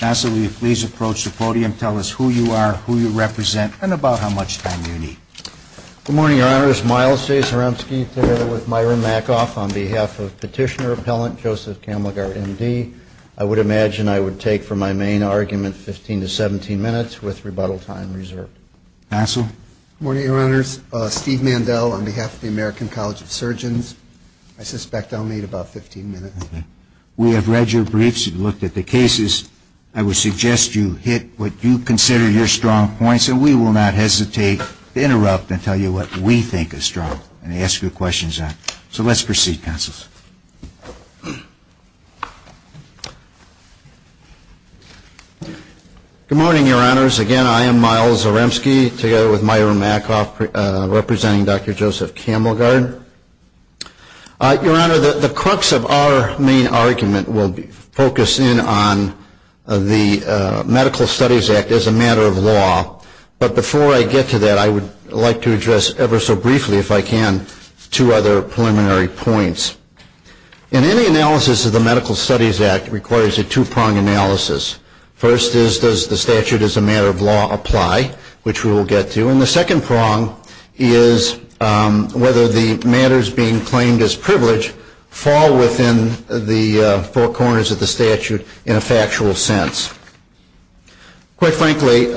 Nassel, will you please approach the podium, tell us who you are, who you represent, and about how much time you need. Good morning, Your Honors. Miles J. Zaremsky, together with Myron Mackoff on behalf of Petitioner Appellant Joseph Kamelgard, M.D. I would imagine I would take, for my main argument, 15 to 17 minutes, with rebuttal time reserved. Nassel. Good morning, Your Honors. Steve Mandel on behalf of the American College of Surgeons. I suspect I'll need about 15 minutes. We have read your briefs and looked at the cases. I would suggest you hit what you consider your strong points, and we will not hesitate to interrupt and tell you what we think is strong and ask your questions on. So let's proceed, counsels. Good morning, Your Honors. Again, I am Miles Zaremsky, together with Myron Mackoff, representing Dr. Joseph Kamelgard. Your Honor, the crux of our main argument will focus in on the Medical Studies Act as a matter of law, but before I get to that, I would like to address ever so briefly, if I can, two other preliminary points. In any analysis of the Medical Studies Act, it requires a two-pronged analysis. First is, does the statute as a matter of law apply, which we will get to. And the second prong is whether the matters being claimed as privilege fall within the four corners of the statute in a factual sense. Quite frankly,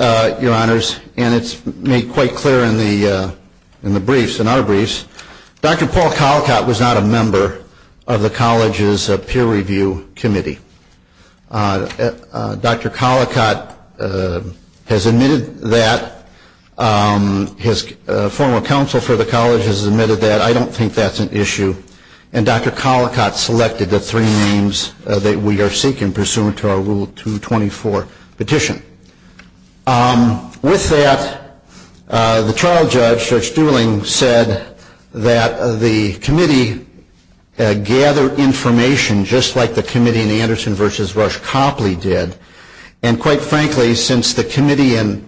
Your Honors, and it's made quite clear in the briefs, in our briefs, Dr. Paul Collicott was not a member of the college's peer review committee. Dr. Collicott has admitted that. His former counsel for the college has admitted that. I don't think that's an issue. And Dr. Collicott selected the three names that we are seeking pursuant to our Rule 224 petition. With that, the trial judge, Judge Dooling, said that the committee gather information just like the committee in Anderson v. Rush Copley did. And quite frankly, since the committee in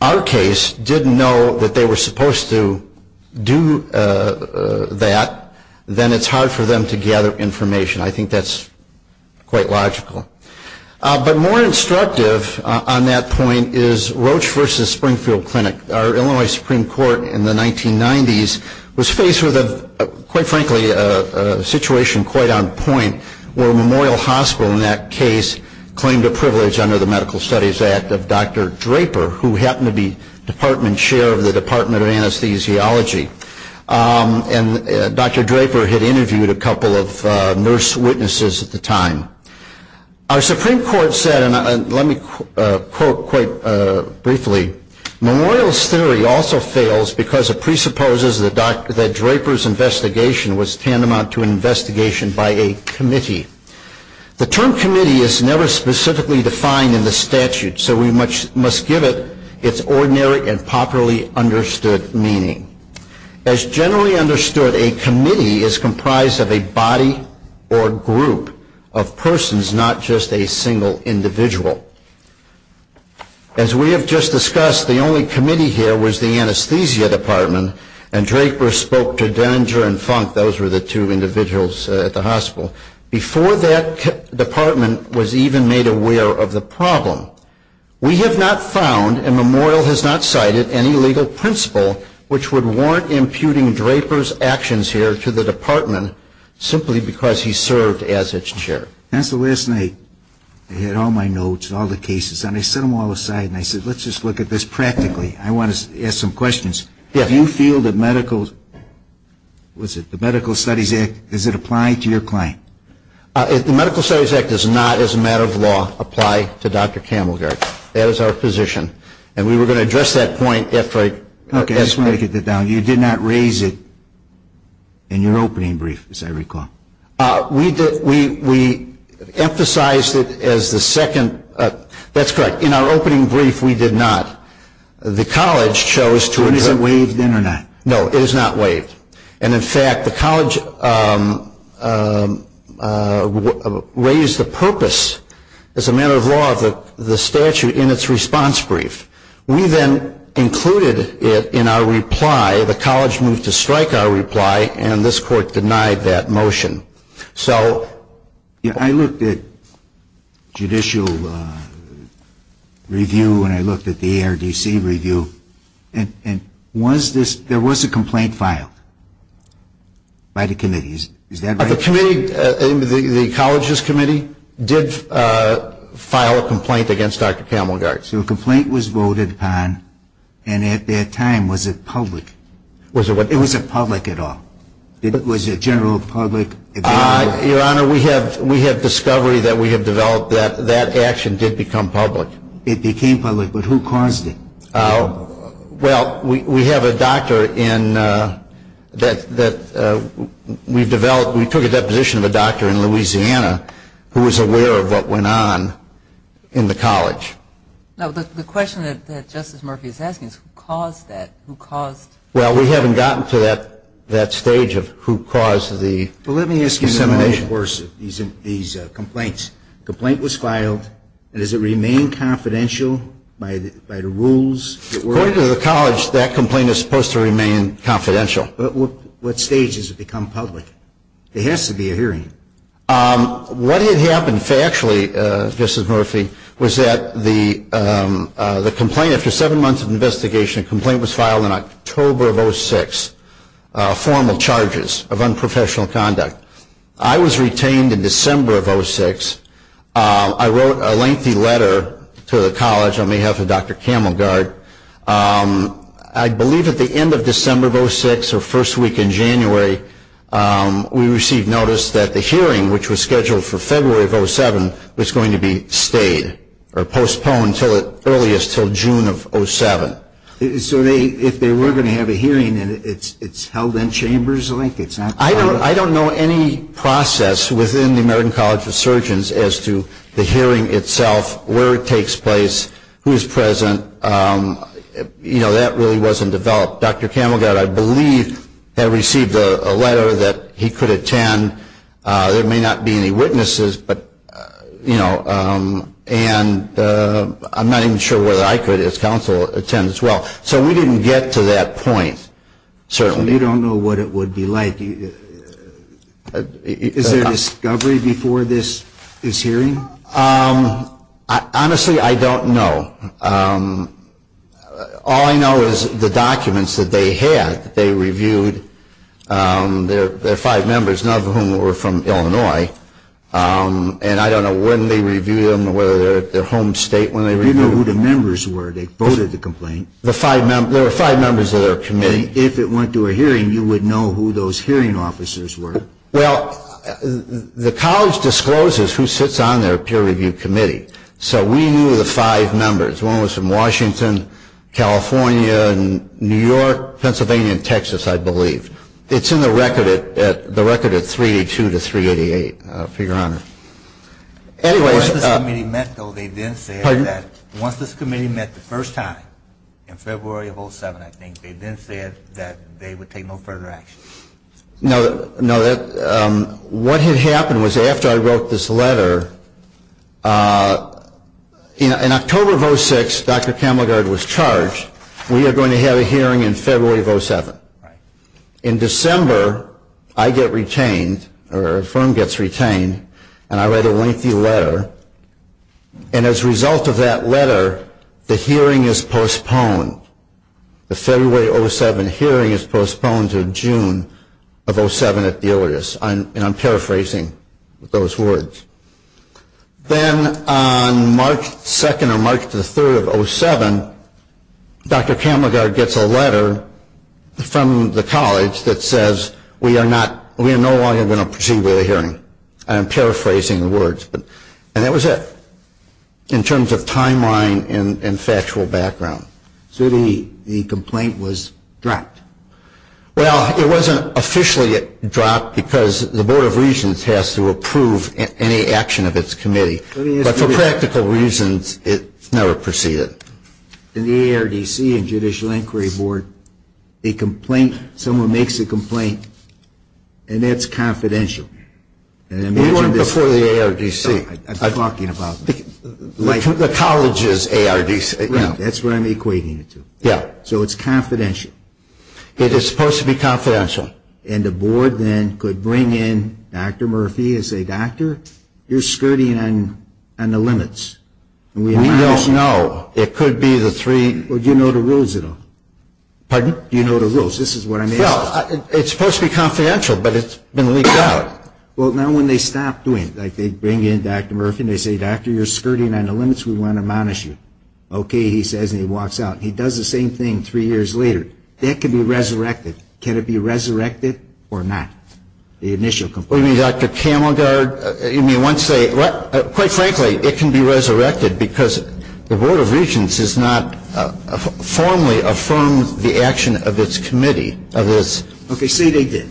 our case didn't know that they were supposed to do that, then it's hard for them to gather information. I think that's quite logical. But more instructive on that point is Roche v. Springfield Clinic. Our Illinois Supreme Court in the 1990s was faced with, quite frankly, a situation quite on point, where Memorial Hospital in that case claimed a privilege under the Medical Studies Act of Dr. Draper, who happened to be department chair of the Department of Anesthesiology. And Dr. Draper had interviewed a couple of nurse witnesses at the time. Our Supreme Court said, and let me quote quite briefly, Memorial's theory also fails because it presupposes that Draper's investigation was tantamount to an investigation by a committee. The term committee is never specifically defined in the statute, so we must give it its ordinary and popularly understood meaning. As generally understood, a committee is comprised of a body or group of persons, not just a single individual. As we have just discussed, the only committee here was the anesthesia department, and Draper spoke to Denninger and Funk, those were the two individuals at the hospital, before that department was even made aware of the problem. We have not found, and Memorial has not cited, any legal principle which would warrant imputing Draper's actions here to the department, simply because he served as its chair. And so last night, I had all my notes, all the cases, and I set them all aside and I said, let's just look at this practically. I want to ask some questions. Do you feel that medical, what's it, the Medical Studies Act, does it apply to your client? The Medical Studies Act does not, as a matter of law, apply to Dr. Camelgard. That is our position. And we were going to address that point after I. Okay, I just want to get that down. You did not raise it in your opening brief, as I recall. We did. We emphasized it as the second. That's correct. In our opening brief, we did not. The college chose to. Is it waived then or not? No, it is not waived. And, in fact, the college raised the purpose, as a matter of law, of the statute in its response brief. We then included it in our reply. The college moved to strike our reply, and this court denied that motion. I looked at judicial review, and I looked at the ARDC review, and was this, there was a complaint filed by the committee. Is that right? The committee, the college's committee, did file a complaint against Dr. Camelgard. So a complaint was voted upon, and at that time, was it public? It wasn't public at all. Was it general public? Your Honor, we have discovery that we have developed that that action did become public. It became public, but who caused it? Well, we have a doctor that we've developed. We took a deposition of a doctor in Louisiana who was aware of what went on in the college. Now, the question that Justice Murphy is asking is who caused that? Who caused? Well, we haven't gotten to that stage of who caused the dissemination. Well, let me ask you, of course, these complaints. The complaint was filed, and does it remain confidential by the rules? According to the college, that complaint is supposed to remain confidential. But what stage does it become public? There has to be a hearing. What had happened factually, Justice Murphy, was that the complaint, after seven months of investigation, complaint was filed in October of 06, formal charges of unprofessional conduct. I was retained in December of 06. I wrote a lengthy letter to the college on behalf of Dr. Camelgard. I believe at the end of December of 06 or first week in January, we received notice that the hearing, which was scheduled for February of 07, was going to be stayed or postponed until June of 07. So if they were going to have a hearing and it's held in chambers, it's not public? I don't know any process within the American College of Surgeons as to the hearing itself, where it takes place, who is present. You know, that really wasn't developed. Dr. Camelgard, I believe, had received a letter that he could attend. There may not be any witnesses, but, you know, and I'm not even sure whether I could as counsel attend as well. So we didn't get to that point, certainly. So you don't know what it would be like? Is there a discovery before this hearing? Honestly, I don't know. All I know is the documents that they had, that they reviewed. There are five members, none of whom were from Illinois, and I don't know when they reviewed them or whether they're at their home state when they reviewed them. You know who the members were. They voted the complaint. There are five members of their committee. If it went to a hearing, you would know who those hearing officers were. Well, the college discloses who sits on their peer review committee. So we knew the five members. One was from Washington, California, New York, Pennsylvania, and Texas, I believe. It's in the record at 382 to 388, for your honor. Once this committee met the first time in February of 07, I think, they then said that they would take no further action. No, what had happened was after I wrote this letter, in October of 06, Dr. Camelgard was charged. We are going to have a hearing in February of 07. In December, I get retained, or a firm gets retained, and I write a lengthy letter, and as a result of that letter, the hearing is postponed. The February 07 hearing is postponed to June of 07 at the Iliadus. And I'm paraphrasing those words. Then on March 2nd or March 3rd of 07, Dr. Camelgard gets a letter from the college that says, we are no longer going to proceed with the hearing. I'm paraphrasing the words. And that was it in terms of timeline and factual background. So the complaint was dropped. Well, it wasn't officially dropped because the Board of Regents has to approve any action of its committee. But for practical reasons, it never proceeded. In the ARDC and Judicial Inquiry Board, a complaint, someone makes a complaint, and that's confidential. We weren't before the ARDC. I'm talking about the college's ARDC. That's what I'm equating it to. Yeah. So it's confidential. It is supposed to be confidential. And the board then could bring in Dr. Murphy and say, doctor, you're skirting on the limits. We don't know. It could be the three. Well, do you know the rules at all? Pardon? Do you know the rules? This is what I'm asking. Well, it's supposed to be confidential, but it's been leaked out. Well, now when they stop doing it, like they bring in Dr. Murphy and they say, doctor, you're skirting on the limits, we want to admonish you. Okay, he says, and he walks out. He does the same thing three years later. That could be resurrected. Can it be resurrected or not, the initial complaint? What do you mean, Dr. Camelgard? You mean once they – quite frankly, it can be resurrected because the Board of Regents has not formally affirmed the action of its committee of this. Okay, say they did.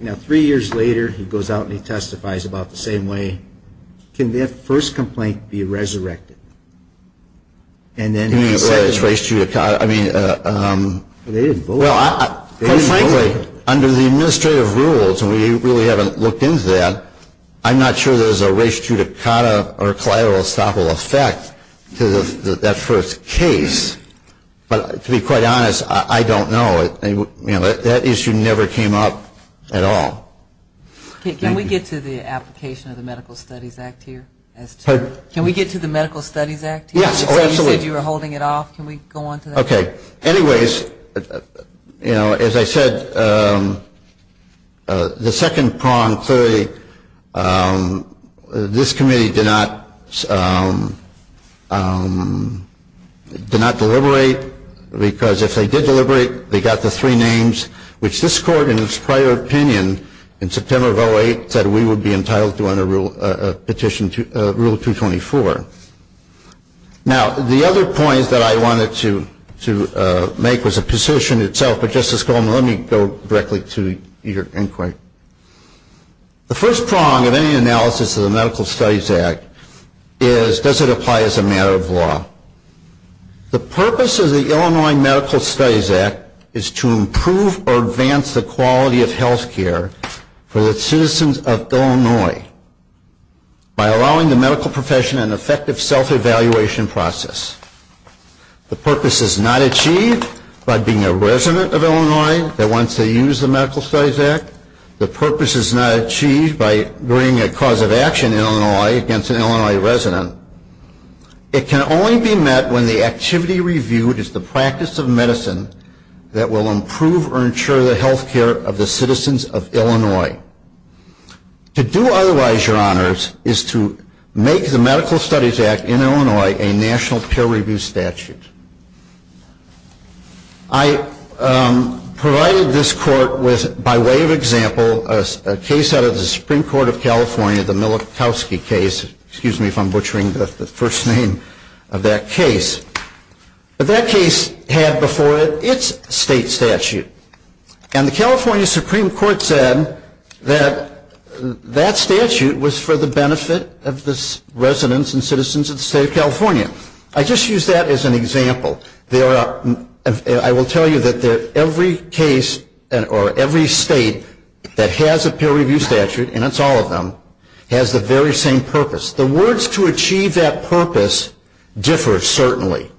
Now, three years later, he goes out and he testifies about the same way. Can that first complaint be resurrected? He said it's res judicata. Well, quite frankly, under the administrative rules, and we really haven't looked into that, I'm not sure there's a res judicata or collateral estoppel effect to that first case. But to be quite honest, I don't know. That issue never came up at all. Can we get to the application of the Medical Studies Act here? Can we get to the Medical Studies Act here? Yes, absolutely. You said you were holding it off. Can we go on to that? Okay. Anyways, you know, as I said, the second prong, 30, this committee did not deliberate because if they did deliberate, they got the three names, which this court, in its prior opinion, in September of 2008, said we would be entitled to a petition to Rule 224. Now, the other point that I wanted to make was a position itself, but, Justice Coleman, let me go directly to your inquiry. The first prong of any analysis of the Medical Studies Act is, does it apply as a matter of law? The purpose of the Illinois Medical Studies Act is to improve or advance the quality of health care for the citizens of Illinois by allowing the medical profession an effective self-evaluation process. The purpose is not achieved by being a resident of Illinois that wants to use the Medical Studies Act. The purpose is not achieved by bringing a cause of action in Illinois against an Illinois resident. It can only be met when the activity reviewed is the practice of medicine that will improve or ensure the health care of the citizens of Illinois. To do otherwise, Your Honors, is to make the Medical Studies Act in Illinois a national peer review statute. I provided this court with, by way of example, a case out of the Supreme Court of California, the Milikowski case, excuse me if I'm butchering the first name of that case. But that case had before it its state statute. And the California Supreme Court said that that statute was for the benefit of the residents and citizens of the state of California. I just used that as an example. I will tell you that every case or every state that has a peer review statute, and it's all of them, has the very same purpose. The words to achieve that purpose differ, certainly.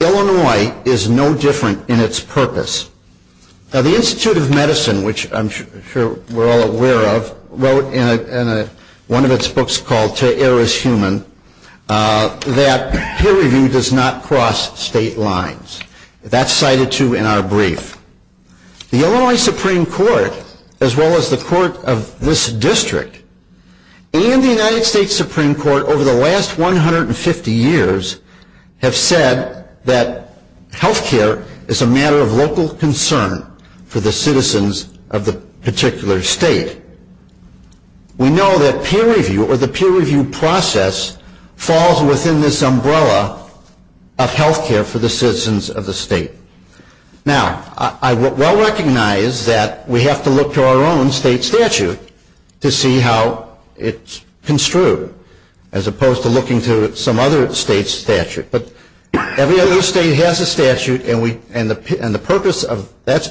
Illinois is no different in its purpose. Now the Institute of Medicine, which I'm sure we're all aware of, wrote in one of its books called To Err is Human, that peer review does not cross state lines. That's cited, too, in our brief. The Illinois Supreme Court, as well as the court of this district, and the United States Supreme Court, over the last 150 years, have said that health care is a matter of local concern for the citizens of the particular state. We know that peer review, or the peer review process, falls within this umbrella of health care for the citizens of the state. Now, I well recognize that we have to look to our own state statute to see how it's construed, as opposed to looking to some other state statute. But every other state has a statute, and the purpose of that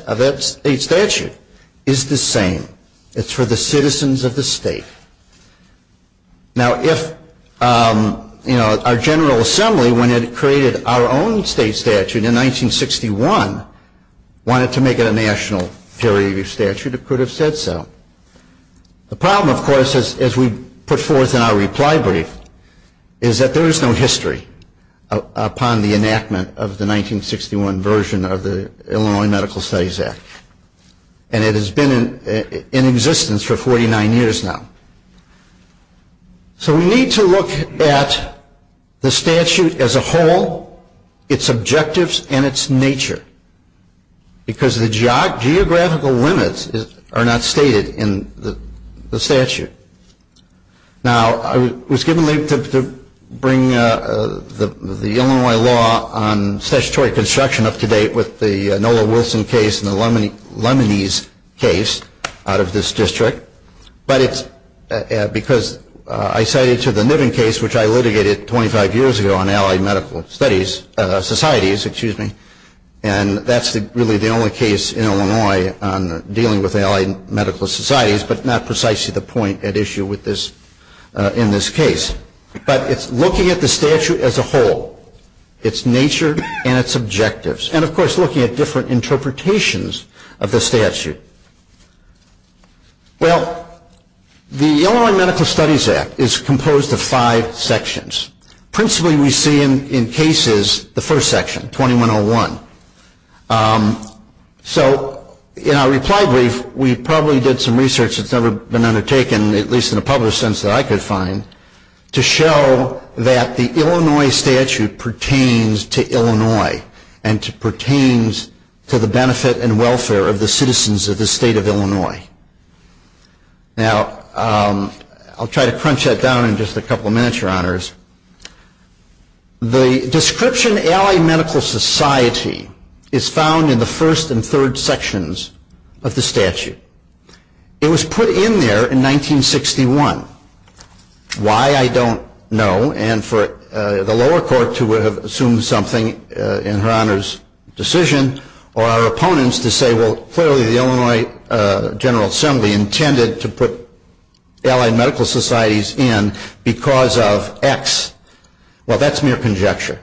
state statute is the same. It's for the citizens of the state. Now, if our General Assembly, when it created our own state statute in 1961, wanted to make it a national peer review statute, it could have said so. The problem, of course, as we put forth in our reply brief, is that there is no history upon the enactment of the 1961 version of the Illinois Medical Studies Act. And it has been in existence for 49 years now. So we need to look at the statute as a whole, its objectives, and its nature, because the geographical limits are not stated in the statute. Now, I was given the link to bring the Illinois law on statutory construction up to date with the Nola Wilson case and the Lemonese case out of this district. But it's because I cited to the Niven case, which I litigated 25 years ago on allied medical societies. And that's really the only case in Illinois on dealing with allied medical societies, but not precisely the point at issue in this case. But it's looking at the statute as a whole, its nature and its objectives. And, of course, looking at different interpretations of the statute. Well, the Illinois Medical Studies Act is composed of five sections. Principally, we see in cases the first section, 2101. So in our reply brief, we probably did some research that's never been undertaken, at least in a public sense that I could find, to show that the Illinois statute pertains to Illinois and pertains to the benefit and welfare of the citizens of the state of Illinois. Now, I'll try to crunch that down in just a couple of minutes, Your Honors. The description, allied medical society, is found in the first and third sections of the statute. It was put in there in 1961. Why, I don't know. And for the lower court to have assumed something in Her Honor's decision, or our opponents to say, well, clearly the Illinois General Assembly intended to put allied medical societies in because of X. Well, that's mere conjecture.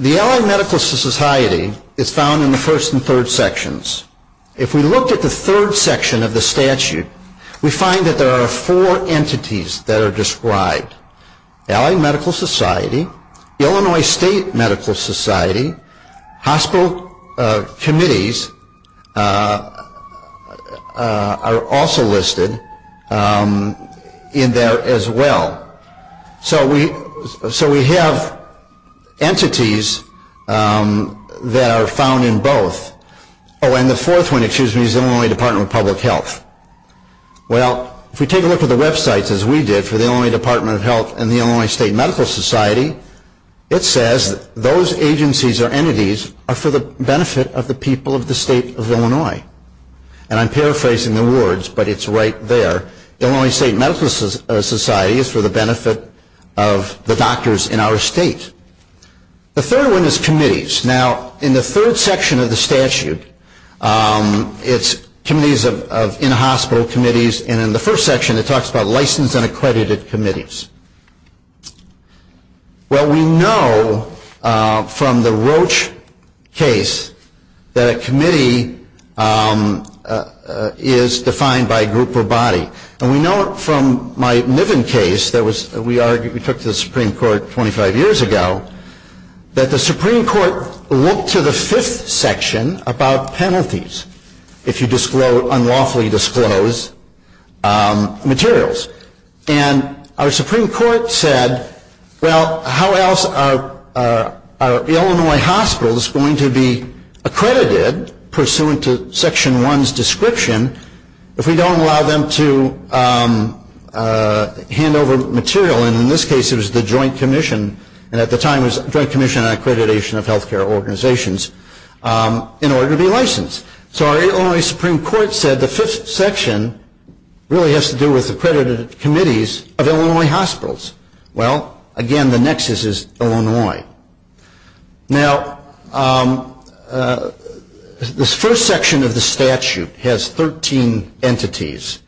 The allied medical society is found in the first and third sections. If we looked at the third section of the statute, we find that there are four entities that are described. Allied medical society, Illinois State Medical Society, hospital committees are also listed in there as well. So we have entities that are found in both. Oh, and the fourth one is the Illinois Department of Public Health. Well, if we take a look at the websites, as we did for the Illinois Department of Health and the Illinois State Medical Society, it says those agencies or entities are for the benefit of the people of the state of Illinois. And I'm paraphrasing the words, but it's right there. The Illinois State Medical Society is for the benefit of the doctors in our state. The third one is committees. Now, in the third section of the statute, it's committees of in-hospital committees, and in the first section it talks about licensed and accredited committees. Well, we know from the Roche case that a committee is defined by group or body. And we know from my Niven case that we took to the Supreme Court 25 years ago that the Supreme Court looked to the fifth section about penalties if you unlawfully disclose materials. And our Supreme Court said, well, how else are Illinois hospitals going to be accredited, pursuant to Section 1's description, if we don't allow them to hand over material? And in this case it was the Joint Commission, and at the time it was the Joint Commission on Accreditation of Health Care Organizations, in order to be licensed. So our Illinois Supreme Court said the fifth section really has to do with accredited committees of Illinois hospitals. Well, again, the nexus is Illinois. Now, this first section of the statute has 13 entities,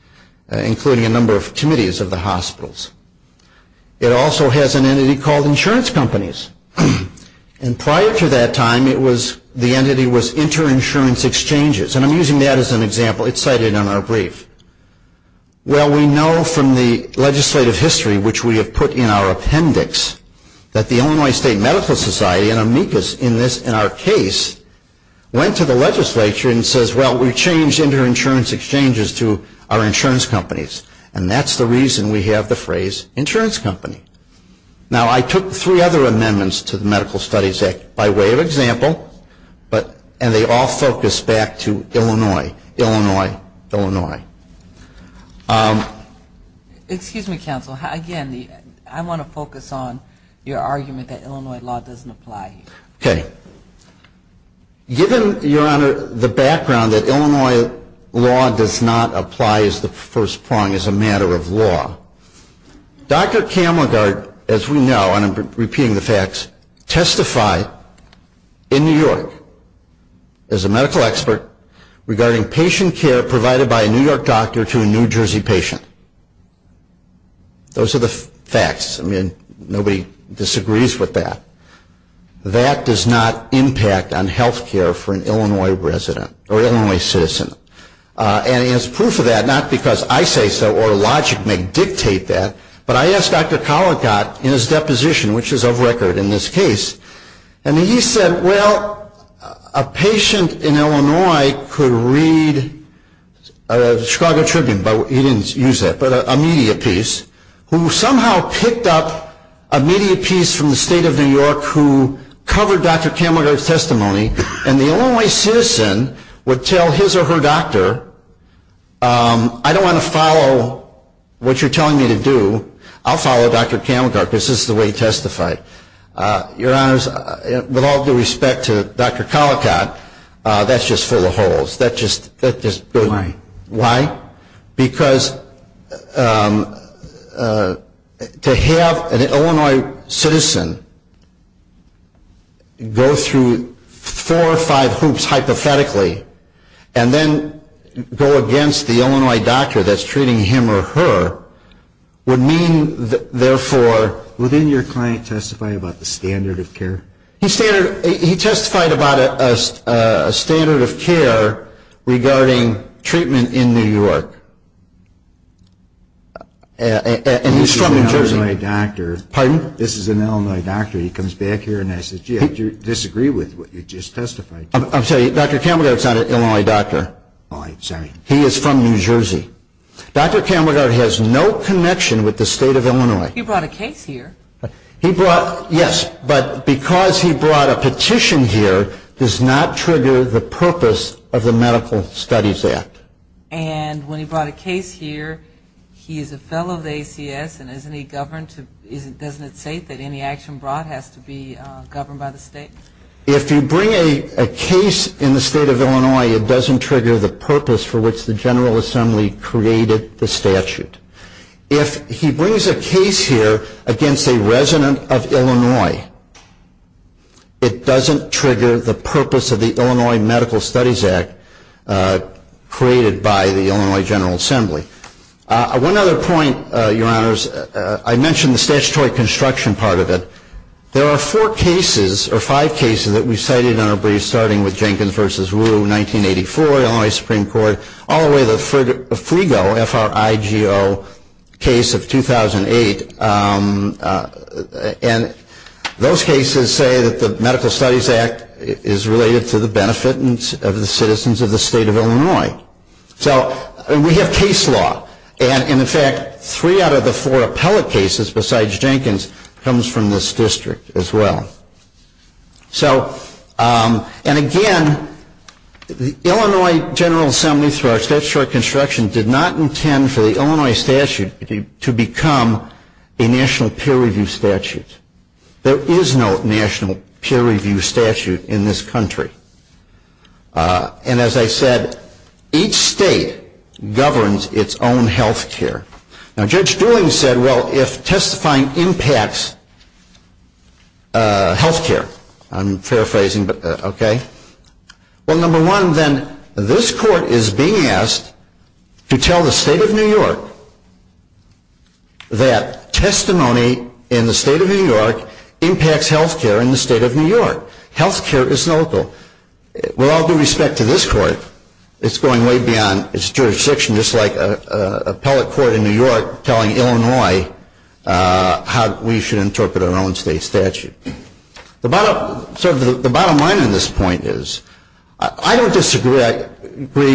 including a number of committees of the hospitals. It also has an entity called insurance companies. And prior to that time, the entity was interinsurance exchanges. And I'm using that as an example. It's cited in our brief. Well, we know from the legislative history, which we have put in our appendix, that the Illinois State Medical Society, and amicus in our case, went to the legislature and says, well, we changed interinsurance exchanges to our insurance companies. And that's the reason we have the phrase insurance company. Now, I took three other amendments to the Medical Studies Act by way of example, and they all focus back to Illinois, Illinois, Illinois. Excuse me, counsel. Again, I want to focus on your argument that Illinois law doesn't apply. Okay. Given, Your Honor, the background that Illinois law does not apply as the first prong, as a matter of law, Dr. Camelgard, as we know, and I'm repeating the facts, testified in New York as a medical expert regarding patient care provided by a New York doctor to a New Jersey patient. Those are the facts. I mean, nobody disagrees with that. That does not impact on health care for an Illinois resident or Illinois citizen. And as proof of that, not because I say so or logic may dictate that, but I asked Dr. Collicott in his deposition, which is of record in this case, and he said, well, a patient in Illinois could read the Chicago Tribune, but he didn't use that, but a media piece, who somehow picked up a media piece from the state of New York who covered Dr. Camelgard's testimony, and the Illinois citizen would tell his or her doctor, I don't want to follow what you're telling me to do. I'll follow Dr. Camelgard because this is the way he testified. Your Honors, with all due respect to Dr. Collicott, that's just full of holes. Why? Why? Because to have an Illinois citizen go through four or five hoops hypothetically and then go against the Illinois doctor that's treating him or her would mean, therefore. Well, didn't your client testify about the standard of care? He testified about a standard of care regarding treatment in New York, and he's from New Jersey. This is an Illinois doctor. Pardon? This is an Illinois doctor. He comes back here and says, gee, I disagree with what you just testified. I'm sorry, Dr. Camelgard's not an Illinois doctor. Oh, I'm sorry. He is from New Jersey. Dr. Camelgard has no connection with the state of Illinois. He brought a case here. Yes, but because he brought a petition here does not trigger the purpose of the Medical Studies Act. And when he brought a case here, he is a fellow of the ACS, and doesn't it say that any action brought has to be governed by the state? If you bring a case in the state of Illinois, it doesn't trigger the purpose for which the General Assembly created the statute. If he brings a case here against a resident of Illinois, it doesn't trigger the purpose of the Illinois Medical Studies Act created by the Illinois General Assembly. One other point, Your Honors, I mentioned the statutory construction part of it. There are four cases, or five cases, that we've cited in our briefs, starting with Jenkins v. Wu, 1984, Illinois Supreme Court, all the way to the Frigo, F-R-I-G-O, case of 2008. And those cases say that the Medical Studies Act is related to the benefit of the citizens of the state of Illinois. So we have case law. And, in fact, three out of the four appellate cases besides Jenkins comes from this district as well. So, and again, the Illinois General Assembly, through our statutory construction, did not intend for the Illinois statute to become a national peer review statute. There is no national peer review statute in this country. And, as I said, each state governs its own health care. Now, Judge Dooling said, well, if testifying impacts health care, I'm paraphrasing, okay. Well, number one, then, this court is being asked to tell the state of New York that testimony in the state of New York impacts health care in the state of New York. Health care is local. With all due respect to this court, it's going way beyond its jurisdiction, just like an appellate court in New York telling Illinois how we should interpret our own state statute. The bottom line on this point is I don't disagree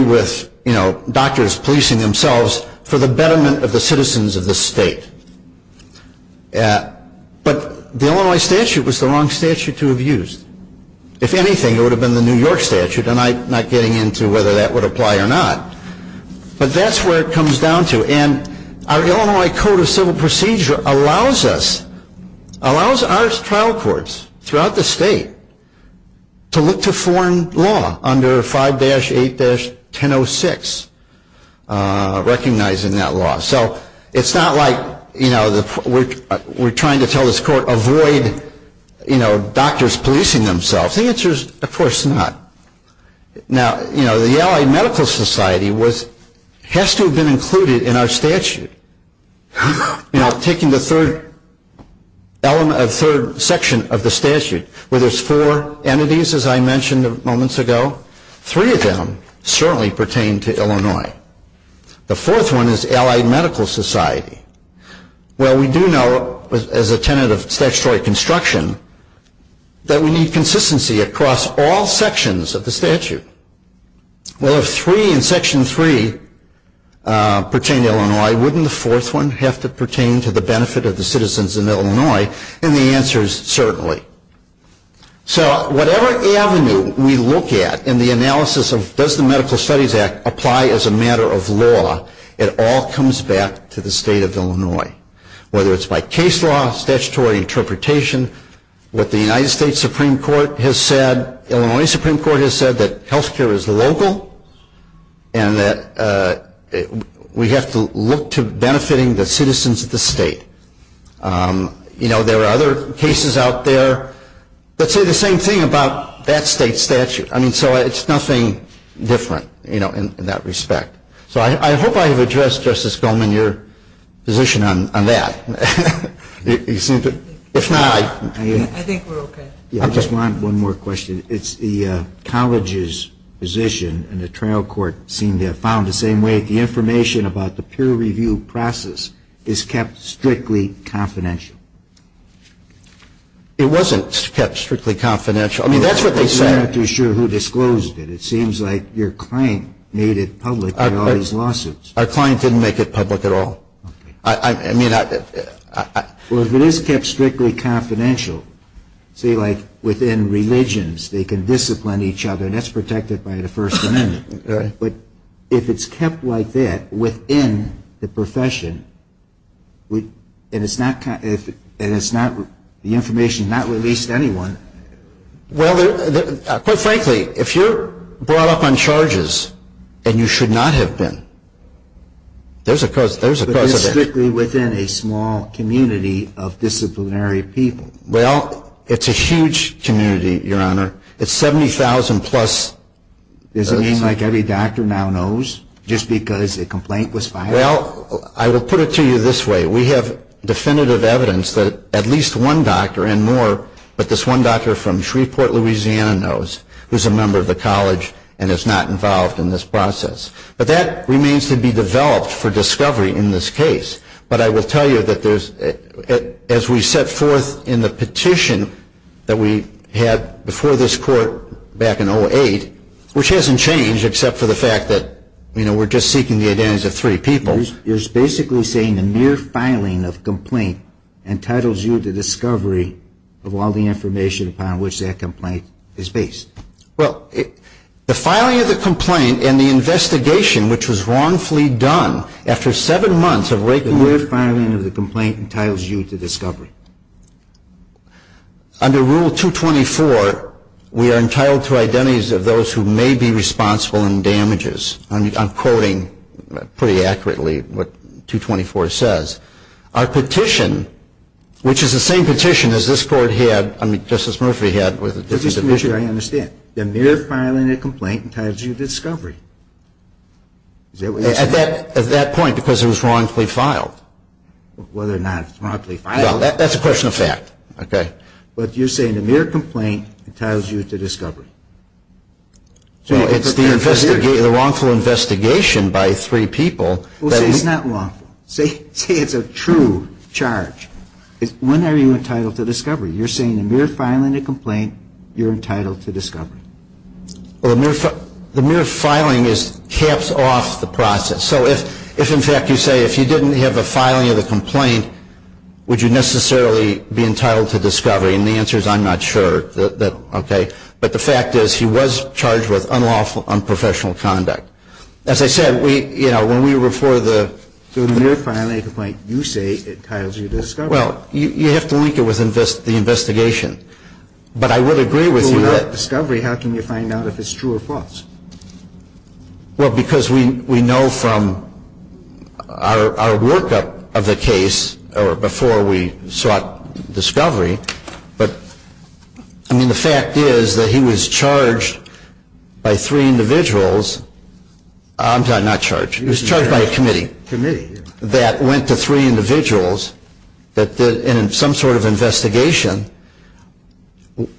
with doctors policing themselves for the betterment of the citizens of the state. But the Illinois statute was the wrong statute to have used. If anything, it would have been the New York statute, and I'm not getting into whether that would apply or not. But that's where it comes down to. And our Illinois Code of Civil Procedure allows us, allows our trial courts throughout the state, to look to foreign law under 5-8-1006, recognizing that law. So it's not like, you know, we're trying to tell this court avoid, you know, doctors policing themselves. The answer is, of course not. Now, you know, the Allied Medical Society has to have been included in our statute. You know, taking the third section of the statute, where there's four entities, as I mentioned moments ago, three of them certainly pertain to Illinois. The fourth one is Allied Medical Society. Well, we do know, as a tenet of statutory construction, that we need consistency across all sections of the statute. Well, if three in Section 3 pertain to Illinois, wouldn't the fourth one have to pertain to the benefit of the citizens in Illinois? And the answer is certainly. So whatever avenue we look at in the analysis of does the Medical Studies Act apply as a matter of law, it all comes back to the state of Illinois. Whether it's by case law, statutory interpretation, what the United States Supreme Court has said, Illinois Supreme Court has said that health care is local and that we have to look to benefiting the citizens of the state. You know, there are other cases out there that say the same thing about that state statute. I mean, so it's nothing different, you know, in that respect. So I hope I have addressed, Justice Goldman, your position on that. If not, I think we're okay. I just want one more question. It's the college's position, and the trial court seemed to have found the same way, that the information about the peer review process is kept strictly confidential. It wasn't kept strictly confidential. I mean, that's what they said. I'm not too sure who disclosed it. It seems like your client made it public in all these lawsuits. Our client didn't make it public at all. Okay. I mean, I — Well, if it is kept strictly confidential, say, like, within religions, they can discipline each other, and that's protected by the First Amendment. All right. But if it's kept like that, within the profession, and it's not — and it's not — the information is not released to anyone. Well, quite frankly, if you're brought up on charges, and you should not have been, there's a cause for that. But it's strictly within a small community of disciplinary people. Well, it's a huge community, Your Honor. It's 70,000-plus — Does it mean like every doctor now knows just because a complaint was filed? Well, I will put it to you this way. We have definitive evidence that at least one doctor and more, but this one doctor from Shreveport, Louisiana, knows, who's a member of the college and is not involved in this process. But that remains to be developed for discovery in this case. But I will tell you that there's — as we set forth in the petition that we had before this court back in 08, which hasn't changed except for the fact that, you know, we're just seeking the identities of three people. You're basically saying the mere filing of complaint entitles you to discovery of all the information upon which that complaint is based. Well, the filing of the complaint and the investigation, which was wrongfully done after seven months of — The mere filing of the complaint entitles you to discovery. Under Rule 224, we are entitled to identities of those who may be responsible in damages. I'm quoting pretty accurately what 224 says. Our petition, which is the same petition as this Court had — I mean, Justice Murphy had — This is the issue I understand. The mere filing of complaint entitles you to discovery. Is that what you're saying? At that point, because it was wrongfully filed. Whether or not it's wrongfully filed — No, that's a question of fact, okay? But you're saying the mere complaint entitles you to discovery. So it's the wrongful investigation by three people that is — Well, see, it's not wrongful. See, it's a true charge. When are you entitled to discovery? You're saying the mere filing of complaint, you're entitled to discovery. Well, the mere filing is — caps off the process. So if, in fact, you say if you didn't have the filing of the complaint, would you necessarily be entitled to discovery? And the answer is I'm not sure. Okay? But the fact is he was charged with unlawful, unprofessional conduct. As I said, we — you know, when we were for the — Well, you have to link it with the investigation. But I would agree with you that — But without discovery, how can you find out if it's true or false? Well, because we know from our workup of the case, or before we sought discovery, but — I mean, the fact is that he was charged by three individuals — I'm sorry, not charged. He was charged by a committee. Committee, yeah. That went to three individuals that did some sort of investigation.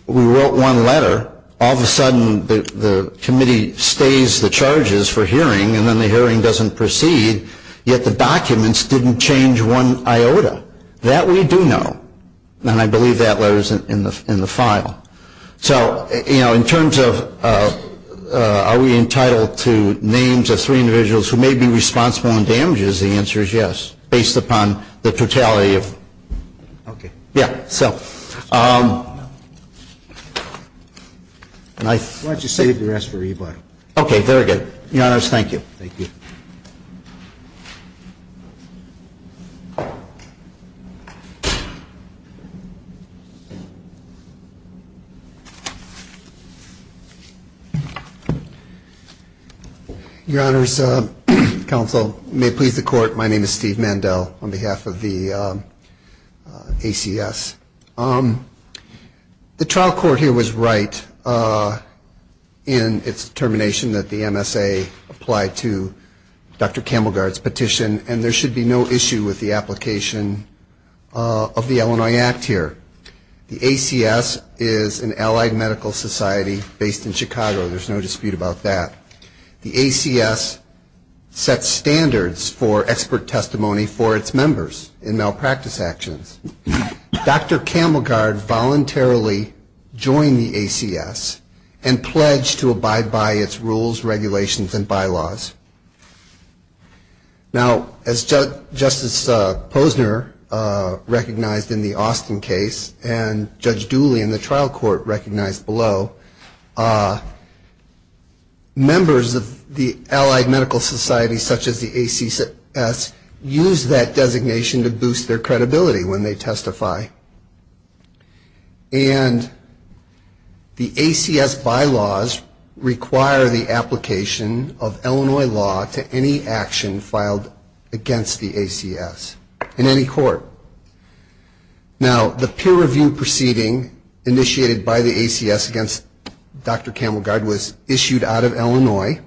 We wrote one letter. All of a sudden, the committee stays the charges for hearing, and then the hearing doesn't proceed. Yet the documents didn't change one iota. That we do know. And I believe that letter is in the file. So, you know, in terms of are we entitled to names of three individuals who may be responsible in damages, the answer is yes, based upon the totality of — Okay. Yeah, so — Why don't you save the rest for rebuttal? Okay, very good. Your Honors, thank you. Thank you. Your Honors, Counsel, may it please the Court, my name is Steve Mandel on behalf of the ACS. The trial court here was right in its determination that the MSA applied to Dr. Camelgard's petition, and there should be no issue with the application. of the Illinois Act here. The ACS is an allied medical society based in Chicago. There's no dispute about that. The ACS sets standards for expert testimony for its members in malpractice actions. Dr. Camelgard voluntarily joined the ACS and pledged to abide by its rules, regulations, and bylaws. Now, as Justice Posner recognized in the Austin case, and Judge Dooley in the trial court recognized below, members of the allied medical society such as the ACS use that designation to boost their credibility when they testify. And the ACS bylaws require the application of Illinois law to any action filed against the ACS in any court. Now, the peer review proceeding initiated by the ACS against Dr. Camelgard was issued out of Illinois.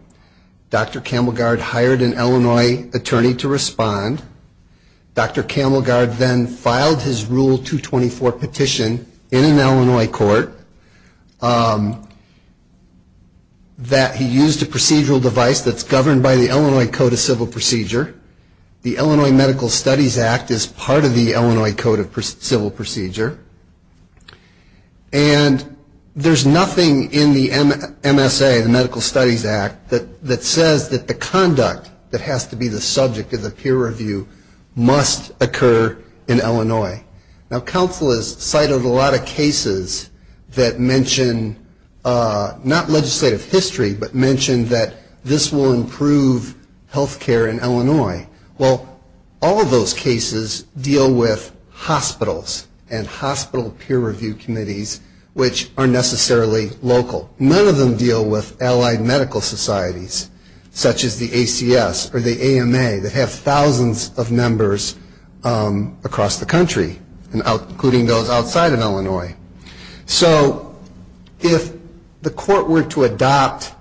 Dr. Camelgard hired an Illinois attorney to respond. Dr. Camelgard then filed his Rule 224 petition in an Illinois court that he used a procedural device that's governed by the Illinois Code of Civil Procedure. The Illinois Medical Studies Act is part of the Illinois Code of Civil Procedure. And there's nothing in the MSA, the Medical Studies Act, that says that the conduct that has to be the subject of the peer review must occur in Illinois. Now, counsel has cited a lot of cases that mention not legislative history, but mention that this will improve health care in Illinois. Well, all of those cases deal with hospitals and hospital peer review committees, which are necessarily local. None of them deal with allied medical societies, such as the ACS or the AMA, that have thousands of members across the country, including those outside of Illinois. So if the court were to adopt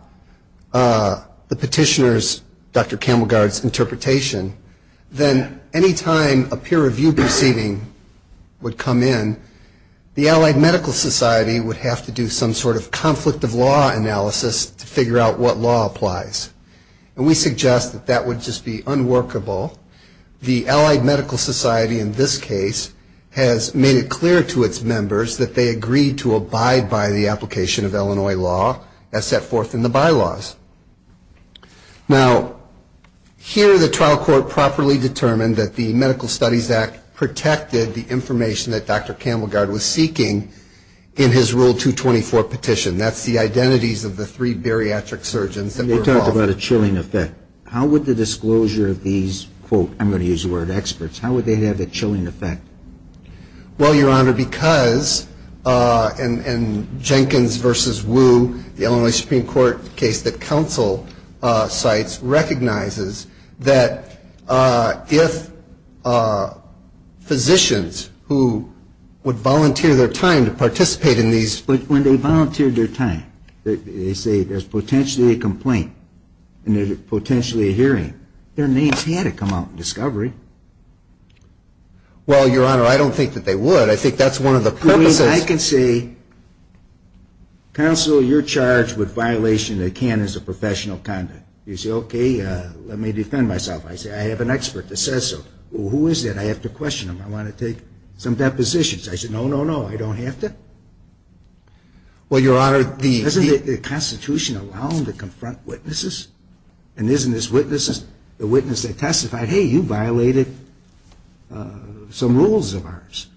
the petitioner's, Dr. Camelgard's, interpretation, then any time a peer review proceeding would come in, the allied medical society would have to do some sort of conflict of law analysis to figure out what law applies. And we suggest that that would just be unworkable. The allied medical society in this case has made it clear to its members that they agree to abide by the application of Illinois law as set forth in the bylaws. Now, here the trial court properly determined that the Medical Studies Act protected the information that Dr. Camelgard was seeking in his Rule 224 petition. That's the identities of the three bariatric surgeons that were involved. And they talked about a chilling effect. How would the disclosure of these, quote, I'm going to use the word experts, how would they have a chilling effect? Well, Your Honor, because in Jenkins v. Wu, the Illinois Supreme Court case that counsel cites, recognizes that if physicians who would volunteer their time to participate in these. But when they volunteered their time, they say there's potentially a complaint and there's potentially a hearing. Their names had to come out in discovery. Well, Your Honor, I don't think that they would. I think that's one of the purposes. I mean, I can say, counsel, you're charged with violation of the canons of professional conduct. You say, okay, let me defend myself. I say, I have an expert that says so. Who is that? I have to question him. I want to take some depositions. I say, no, no, no, I don't have to. Doesn't the Constitution allow them to confront witnesses? And isn't this witness the witness that testified, hey, you violated some rules of ours?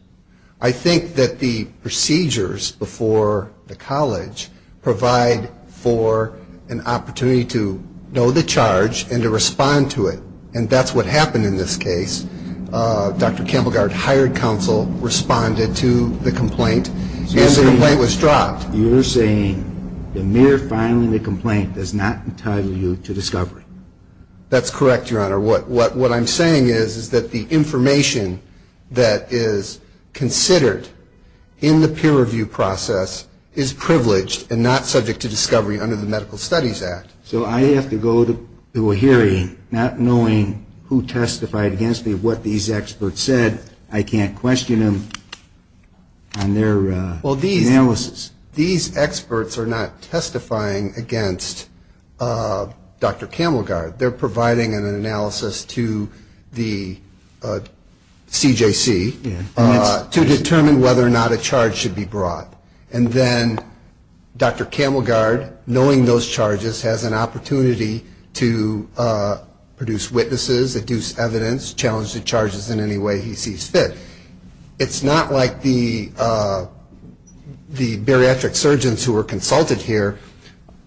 I think that the procedures before the college provide for an opportunity to know the charge and to respond to it. And that's what happened in this case. Dr. Campbell-Gard hired counsel, responded to the complaint, and the complaint was dropped. You're saying the mere filing the complaint does not entitle you to discovery. That's correct, Your Honor. What I'm saying is that the information that is considered in the peer review process is privileged and not subject to discovery under the Medical Studies Act. So I have to go to a hearing not knowing who testified against me, what these experts said. I can't question them on their analysis. Well, these experts are not testifying against Dr. Campbell-Gard. They're providing an analysis to the CJC to determine whether or not a charge should be brought. And then Dr. Campbell-Gard, knowing those charges, has an opportunity to go to a hearing. He has an opportunity to produce witnesses, deduce evidence, challenge the charges in any way he sees fit. It's not like the bariatric surgeons who were consulted here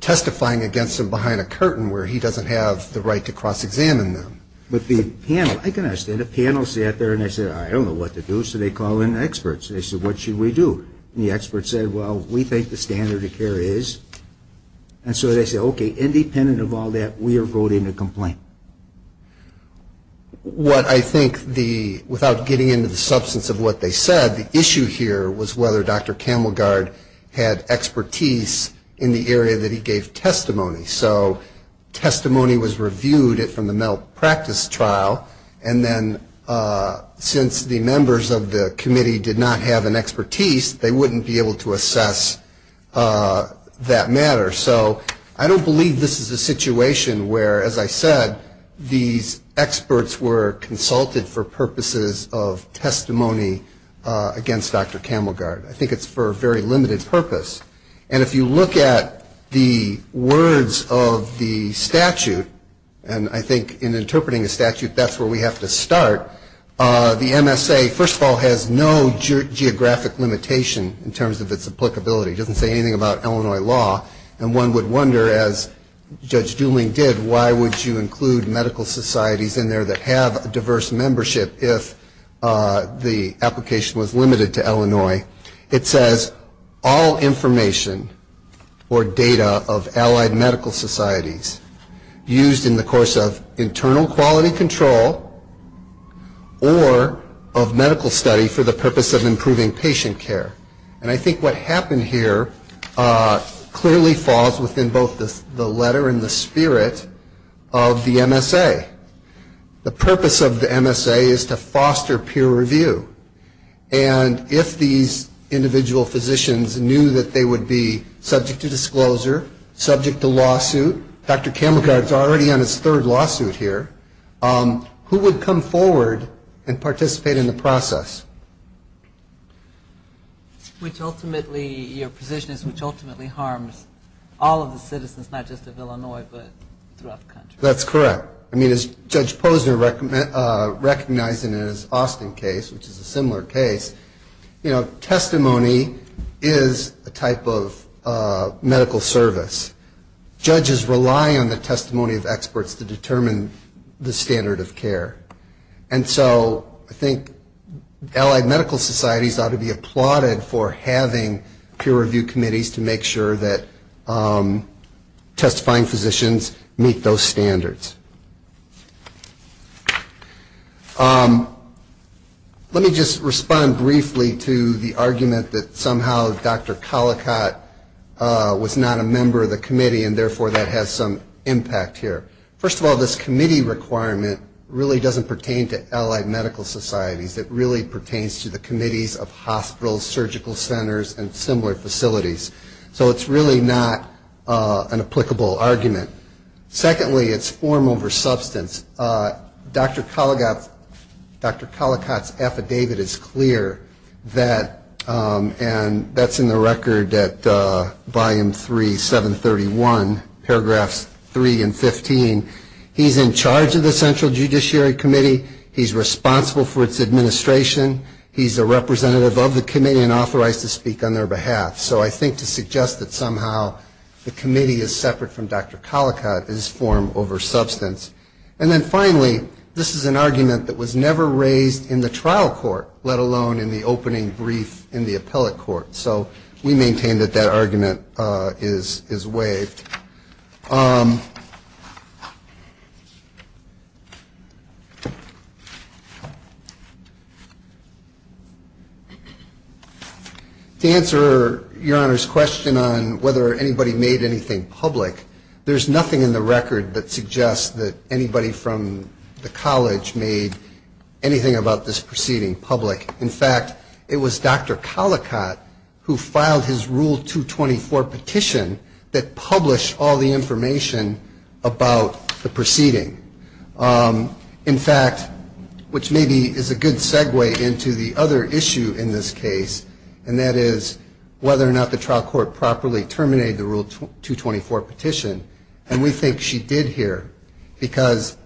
testifying against him behind a curtain where he doesn't have the right to cross-examine them. But the panel, I can understand, the panel sat there and they said, I don't know what to do, so they call in experts. They said, what should we do? And the expert said, well, we think the standard of care is. And so they said, okay, independent of all that, we are voting to complain. What I think the, without getting into the substance of what they said, the issue here was whether Dr. Campbell-Gard had expertise in the area that he gave testimony. So testimony was reviewed from the mental practice trial. And then since the members of the committee did not have an expertise, they said, okay, let's go to a hearing. They wouldn't be able to assess that matter. So I don't believe this is a situation where, as I said, these experts were consulted for purposes of testimony against Dr. Campbell-Gard. I think it's for a very limited purpose. And if you look at the words of the statute, and I think in interpreting a statute, that's where we have to start, the MSA, first of all, has no geographic limitations. In terms of its applicability, it doesn't say anything about Illinois law. And one would wonder, as Judge Dooling did, why would you include medical societies in there that have a diverse membership if the application was limited to Illinois? It says, all information or data of allied medical societies used in the course of internal quality control or of medical study for the purpose of improving patient care. And I think what happened here clearly falls within both the letter and the spirit of the MSA. The purpose of the MSA is to foster peer review. And if these individual physicians knew that they would be subject to disclosure, subject to lawsuit, Dr. Campbell-Gard is already on his third lawsuit here, who would come forward and participate in the process? Which ultimately, your position is, which ultimately harms all of the citizens, not just of Illinois, but throughout the country. That's correct. I mean, as Judge Posner recognized in his Austin case, which is a similar case, you know, testimony is a type of medical service. Judges rely on the testimony of experts to determine the standard of care. And so I think allied medical societies ought to be applauded for handling their cases. And for having peer review committees to make sure that testifying physicians meet those standards. Let me just respond briefly to the argument that somehow Dr. Collicott was not a member of the committee, and therefore that has some impact here. First of all, this committee requirement really doesn't pertain to allied medical societies. It really pertains to the committees of hospitals, surgical centers, and similar facilities. So it's really not an applicable argument. Secondly, it's form over substance. Dr. Collicott's affidavit is clear, and that's in the record at Volume 3, 731, paragraphs 3 and 15. He's in charge of the Central Judiciary Committee. He's responsible for its administration. He's a representative of the committee and authorized to speak on their behalf. So I think to suggest that somehow the committee is separate from Dr. Collicott is form over substance. And then finally, this is an argument that was never raised in the trial court, let alone in the opening brief in the appellate court. So we maintain that that argument is waived. To answer Your Honor's question on whether anybody made anything public, there's nothing in the record that suggests that anybody from the college made anything about this proceeding public. In fact, it was Dr. Collicott who filed his Rule 224 petition that published all the information about the proceeding. In fact, which maybe is a good segue into the other issue in this case, and that is whether or not the trial court properly terminated the Rule 224 petition. And we think she did here, because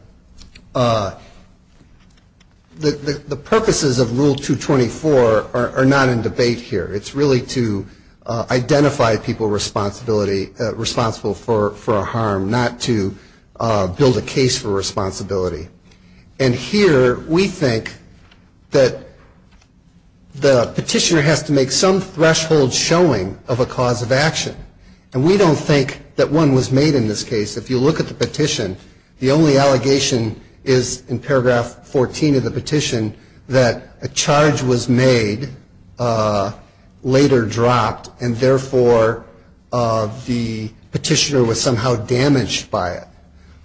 the purposes of Rule 224 are not in debate here. It's really to identify people responsible for a harm, not to build a case for it. It's a case for responsibility. And here we think that the petitioner has to make some threshold showing of a cause of action. And we don't think that one was made in this case. If you look at the petition, the only allegation is in paragraph 14 of the petition that a charge was made, later dropped, and therefore the petitioner was somehow damaged by it.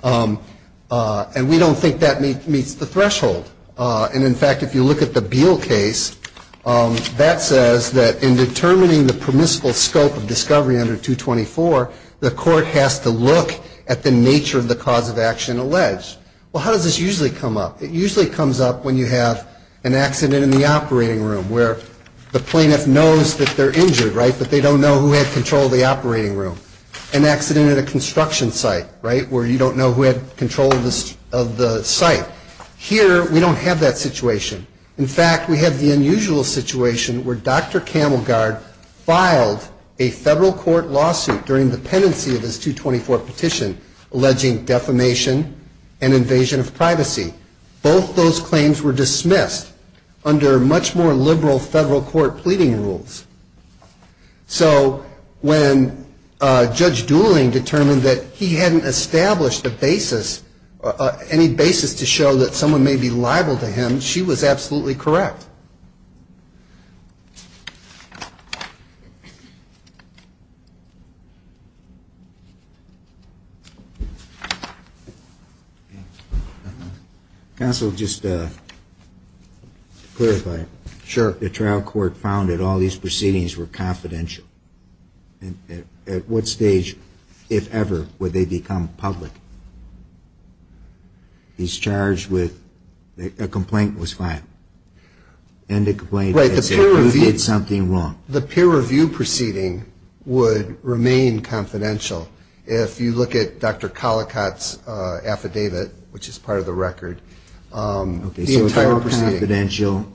And we don't think that meets the threshold. And in fact, if you look at the Beal case, that says that in determining the permissible scope of discovery under 224, the court has to look at the nature of the cause of action alleged. Well, how does this usually come up? It usually comes up when you have an accident in the operating room where the plaintiff knows that they're injured, right, but they don't know who had control of the operating room. An accident at a construction site, right, where you don't know who had control of the site. Here we don't have that situation. In fact, we have the unusual situation where Dr. Camelgard filed a federal court lawsuit during the pendency of his 224 petition alleging defamation and invasion of privacy. Both those claims were dismissed under much more liberal federal court pleading rules. So when Judge Dooling determined that he hadn't established a basis, any basis to show that someone may be liable to him, she was absolutely correct. Counsel, just to clarify. Sure. If the trial court found that all these proceedings were confidential, at what stage, if ever, would they become public? He's charged with a complaint was filed. And the complaint is that he did something wrong. The peer review proceeding would remain confidential if you look at Dr. Collicott's affidavit, which is part of the record. Okay, so it's all confidential.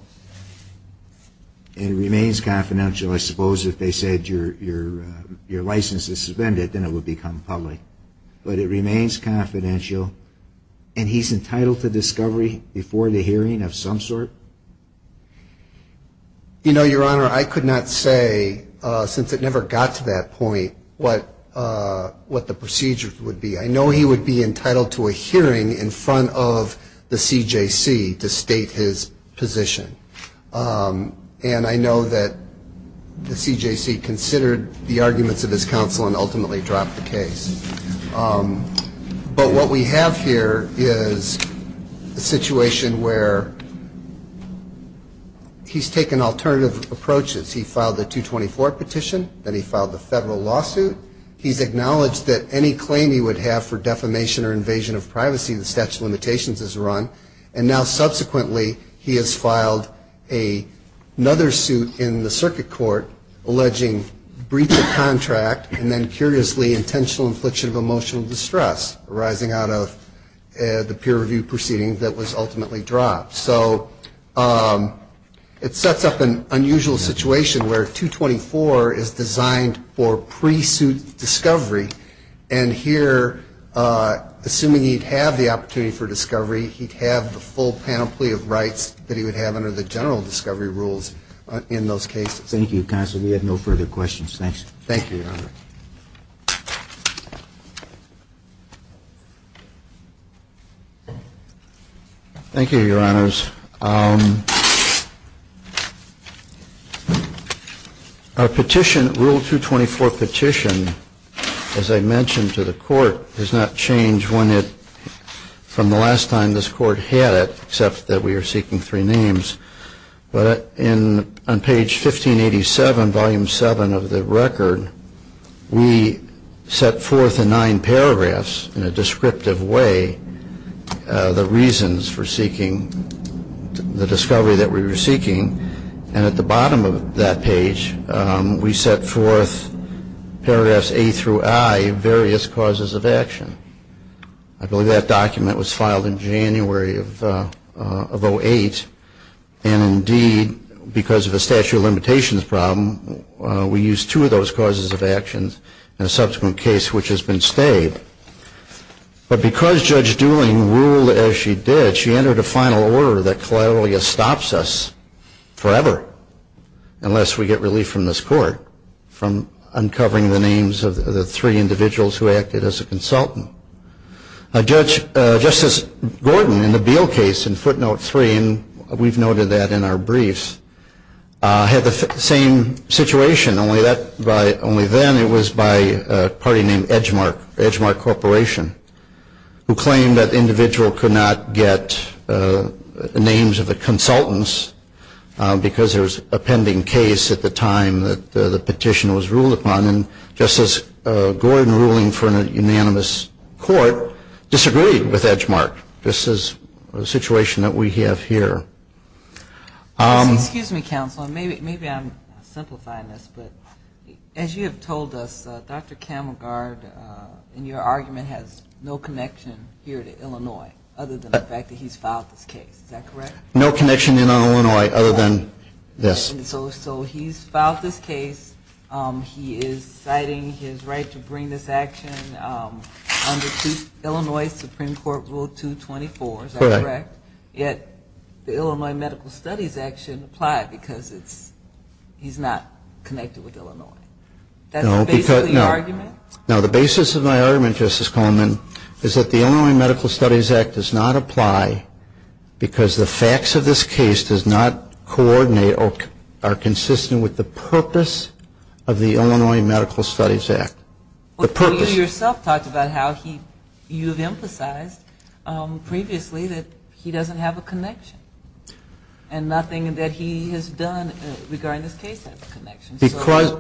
And it remains confidential. I suppose if they said your license is suspended, then it would become public. But it remains confidential. And he's entitled to discovery before the hearing of some sort? You know, Your Honor, I could not say, since it never got to that point, what the procedure would be. I know he would be entitled to a hearing in front of the CJC to state his position. And I know that the CJC considered the arguments of his counsel and ultimately dropped the case. But what we have here is a situation where he's taken alternative approaches. He filed the 224 petition. Then he filed the federal lawsuit. He's acknowledged that any claim he would have for defamation or invasion of privacy in the statute of limitations is run. And now, subsequently, he has filed another suit in the circuit court alleging breach of contract and then, curiously, intentional infliction of emotional distress, arising out of the peer review proceeding that was ultimately dropped. So it sets up an unusual situation where 224 is the statute of limitations. It's designed for pre-suit discovery. And here, assuming he'd have the opportunity for discovery, he'd have the full panoply of rights that he would have under the general discovery rules in those cases. Thank you, counsel. We have no further questions. Thank you, Your Honor. Thank you, Your Honors. Our petition, rule 224 petition, as I mentioned to the court, does not change from the last time this court had it, except that we are seeking three names. But on page 1587, volume 7 of the record, it does not change from the last time this court had it, except that we are seeking three names. We set forth in nine paragraphs, in a descriptive way, the reasons for seeking the discovery that we were seeking. And at the bottom of that page, we set forth paragraphs A through I, various causes of action. I believe that document was filed in January of 08. And, indeed, because of a statute of limitations problem, we used two of those causes of action. And in a subsequent case, which has been stayed. But because Judge Dooling ruled as she did, she entered a final order that collaterally stops us forever, unless we get relief from this court, from uncovering the names of the three individuals who acted as a consultant. Judge, Justice Gordon, in the Beal case, in footnote 3, and we've noted that in our briefs, had the same situation. Only then, it was by a party named Edgemark Corporation, who claimed that the individual could not get the names of the consultants, because there was a pending case at the time that the petition was ruled upon. And Justice Gordon, ruling for a unanimous court, disagreed with Edgemark. This is the situation that we have here. Excuse me, counsel. Maybe I'm simplifying this. As you have told us, Dr. Camelgard, in your argument, has no connection here to Illinois, other than the fact that he's filed this case. Is that correct? No connection in Illinois, other than this. So he's filed this case. He is citing his right to bring this action under Illinois Supreme Court Rule 224. Is that correct? Yet, the Illinois Medical Studies Act shouldn't apply, because he's not connected with Illinois. That's the basis of your argument? No, the basis of my argument, Justice Coleman, is that the Illinois Medical Studies Act does not apply, because the facts of this case are not consistent with the purpose of the Illinois Medical Studies Act. Well, you yourself talked about how you have emphasized previously that he filed this case. He doesn't have a connection, and nothing that he has done regarding this case has a connection. Because,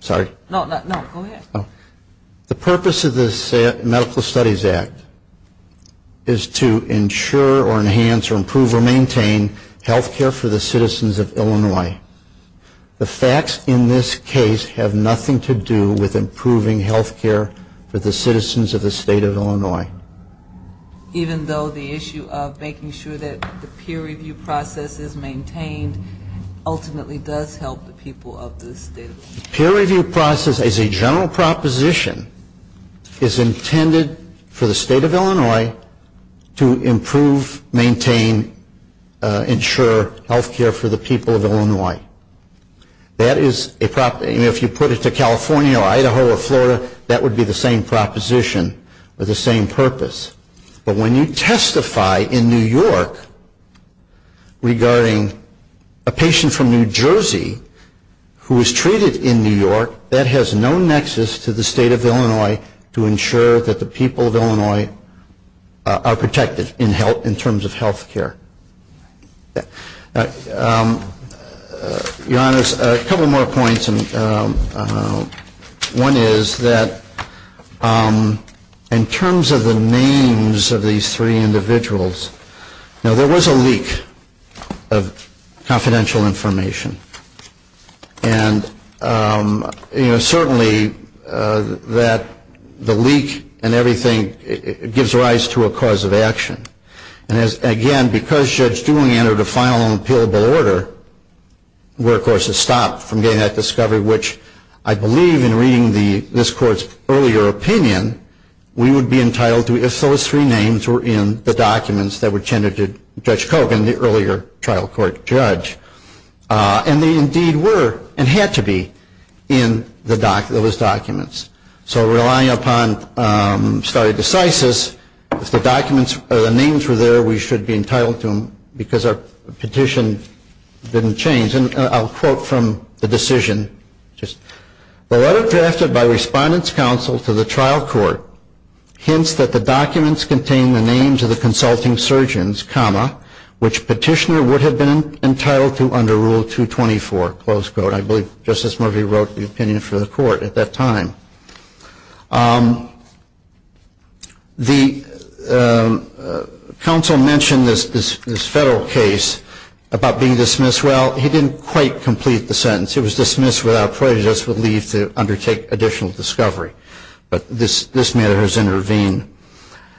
sorry. No, go ahead. The purpose of this Medical Studies Act is to ensure or enhance or improve or maintain health care for the citizens of Illinois. The facts in this case have nothing to do with improving health care for the citizens of the state of Illinois. Even though the issue of making sure that the peer review process is maintained ultimately does help the people of the state. The peer review process is a general proposition. It's intended for the state of Illinois to improve, maintain, ensure health care for the people of Illinois. That is a proposition. If you put it to California or Idaho or Florida, that would be the same proposition or the same purpose. But when you testify in New York regarding a patient from New Jersey who was treated in New York, that has no nexus to the state of Illinois to ensure that the people of Illinois are protected in terms of health care. Your Honors, a couple more points. One is that in terms of the names of these three individuals, now there was a leak of confidential information. And certainly that the leak and everything gives rise to a cause of action. And again, because Judge Dewing entered a final and appealable order, we're of course stopped from getting that discovery. Which I believe in reading this Court's earlier opinion, we would be entitled to if those three names were in the documents that were tendered to Judge Kogan, the earlier trial court judge. And they indeed were and had to be in those documents. So relying upon stare decisis, if the names were there, we should be entitled to them because our petition didn't change. And I'll quote from the decision. The letter drafted by Respondent's Counsel to the trial court hints that the documents contain the names of the consulting surgeons, comma, which petitioner would have been entitled to under Rule 224, close quote. I believe Justice Murphy wrote the opinion for the Court at that time. The counsel mentioned this federal case about being dismissed. Well, he didn't quite complete the sentence. It was dismissed without prejudice relief to undertake additional discovery. But this matter has intervened.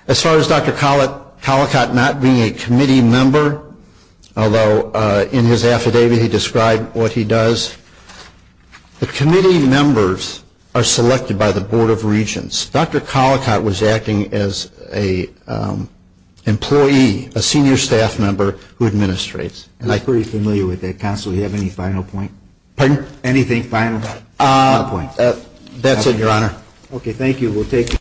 As far as Dr. Collicott not being a committee member, although in his affidavit he described what he does. The committee members are selected by the Board of Regents. Dr. Collicott was acting as an employee, a senior staff member who administrates. I'm pretty familiar with that counsel. Do you have any final point? That's it, Your Honor.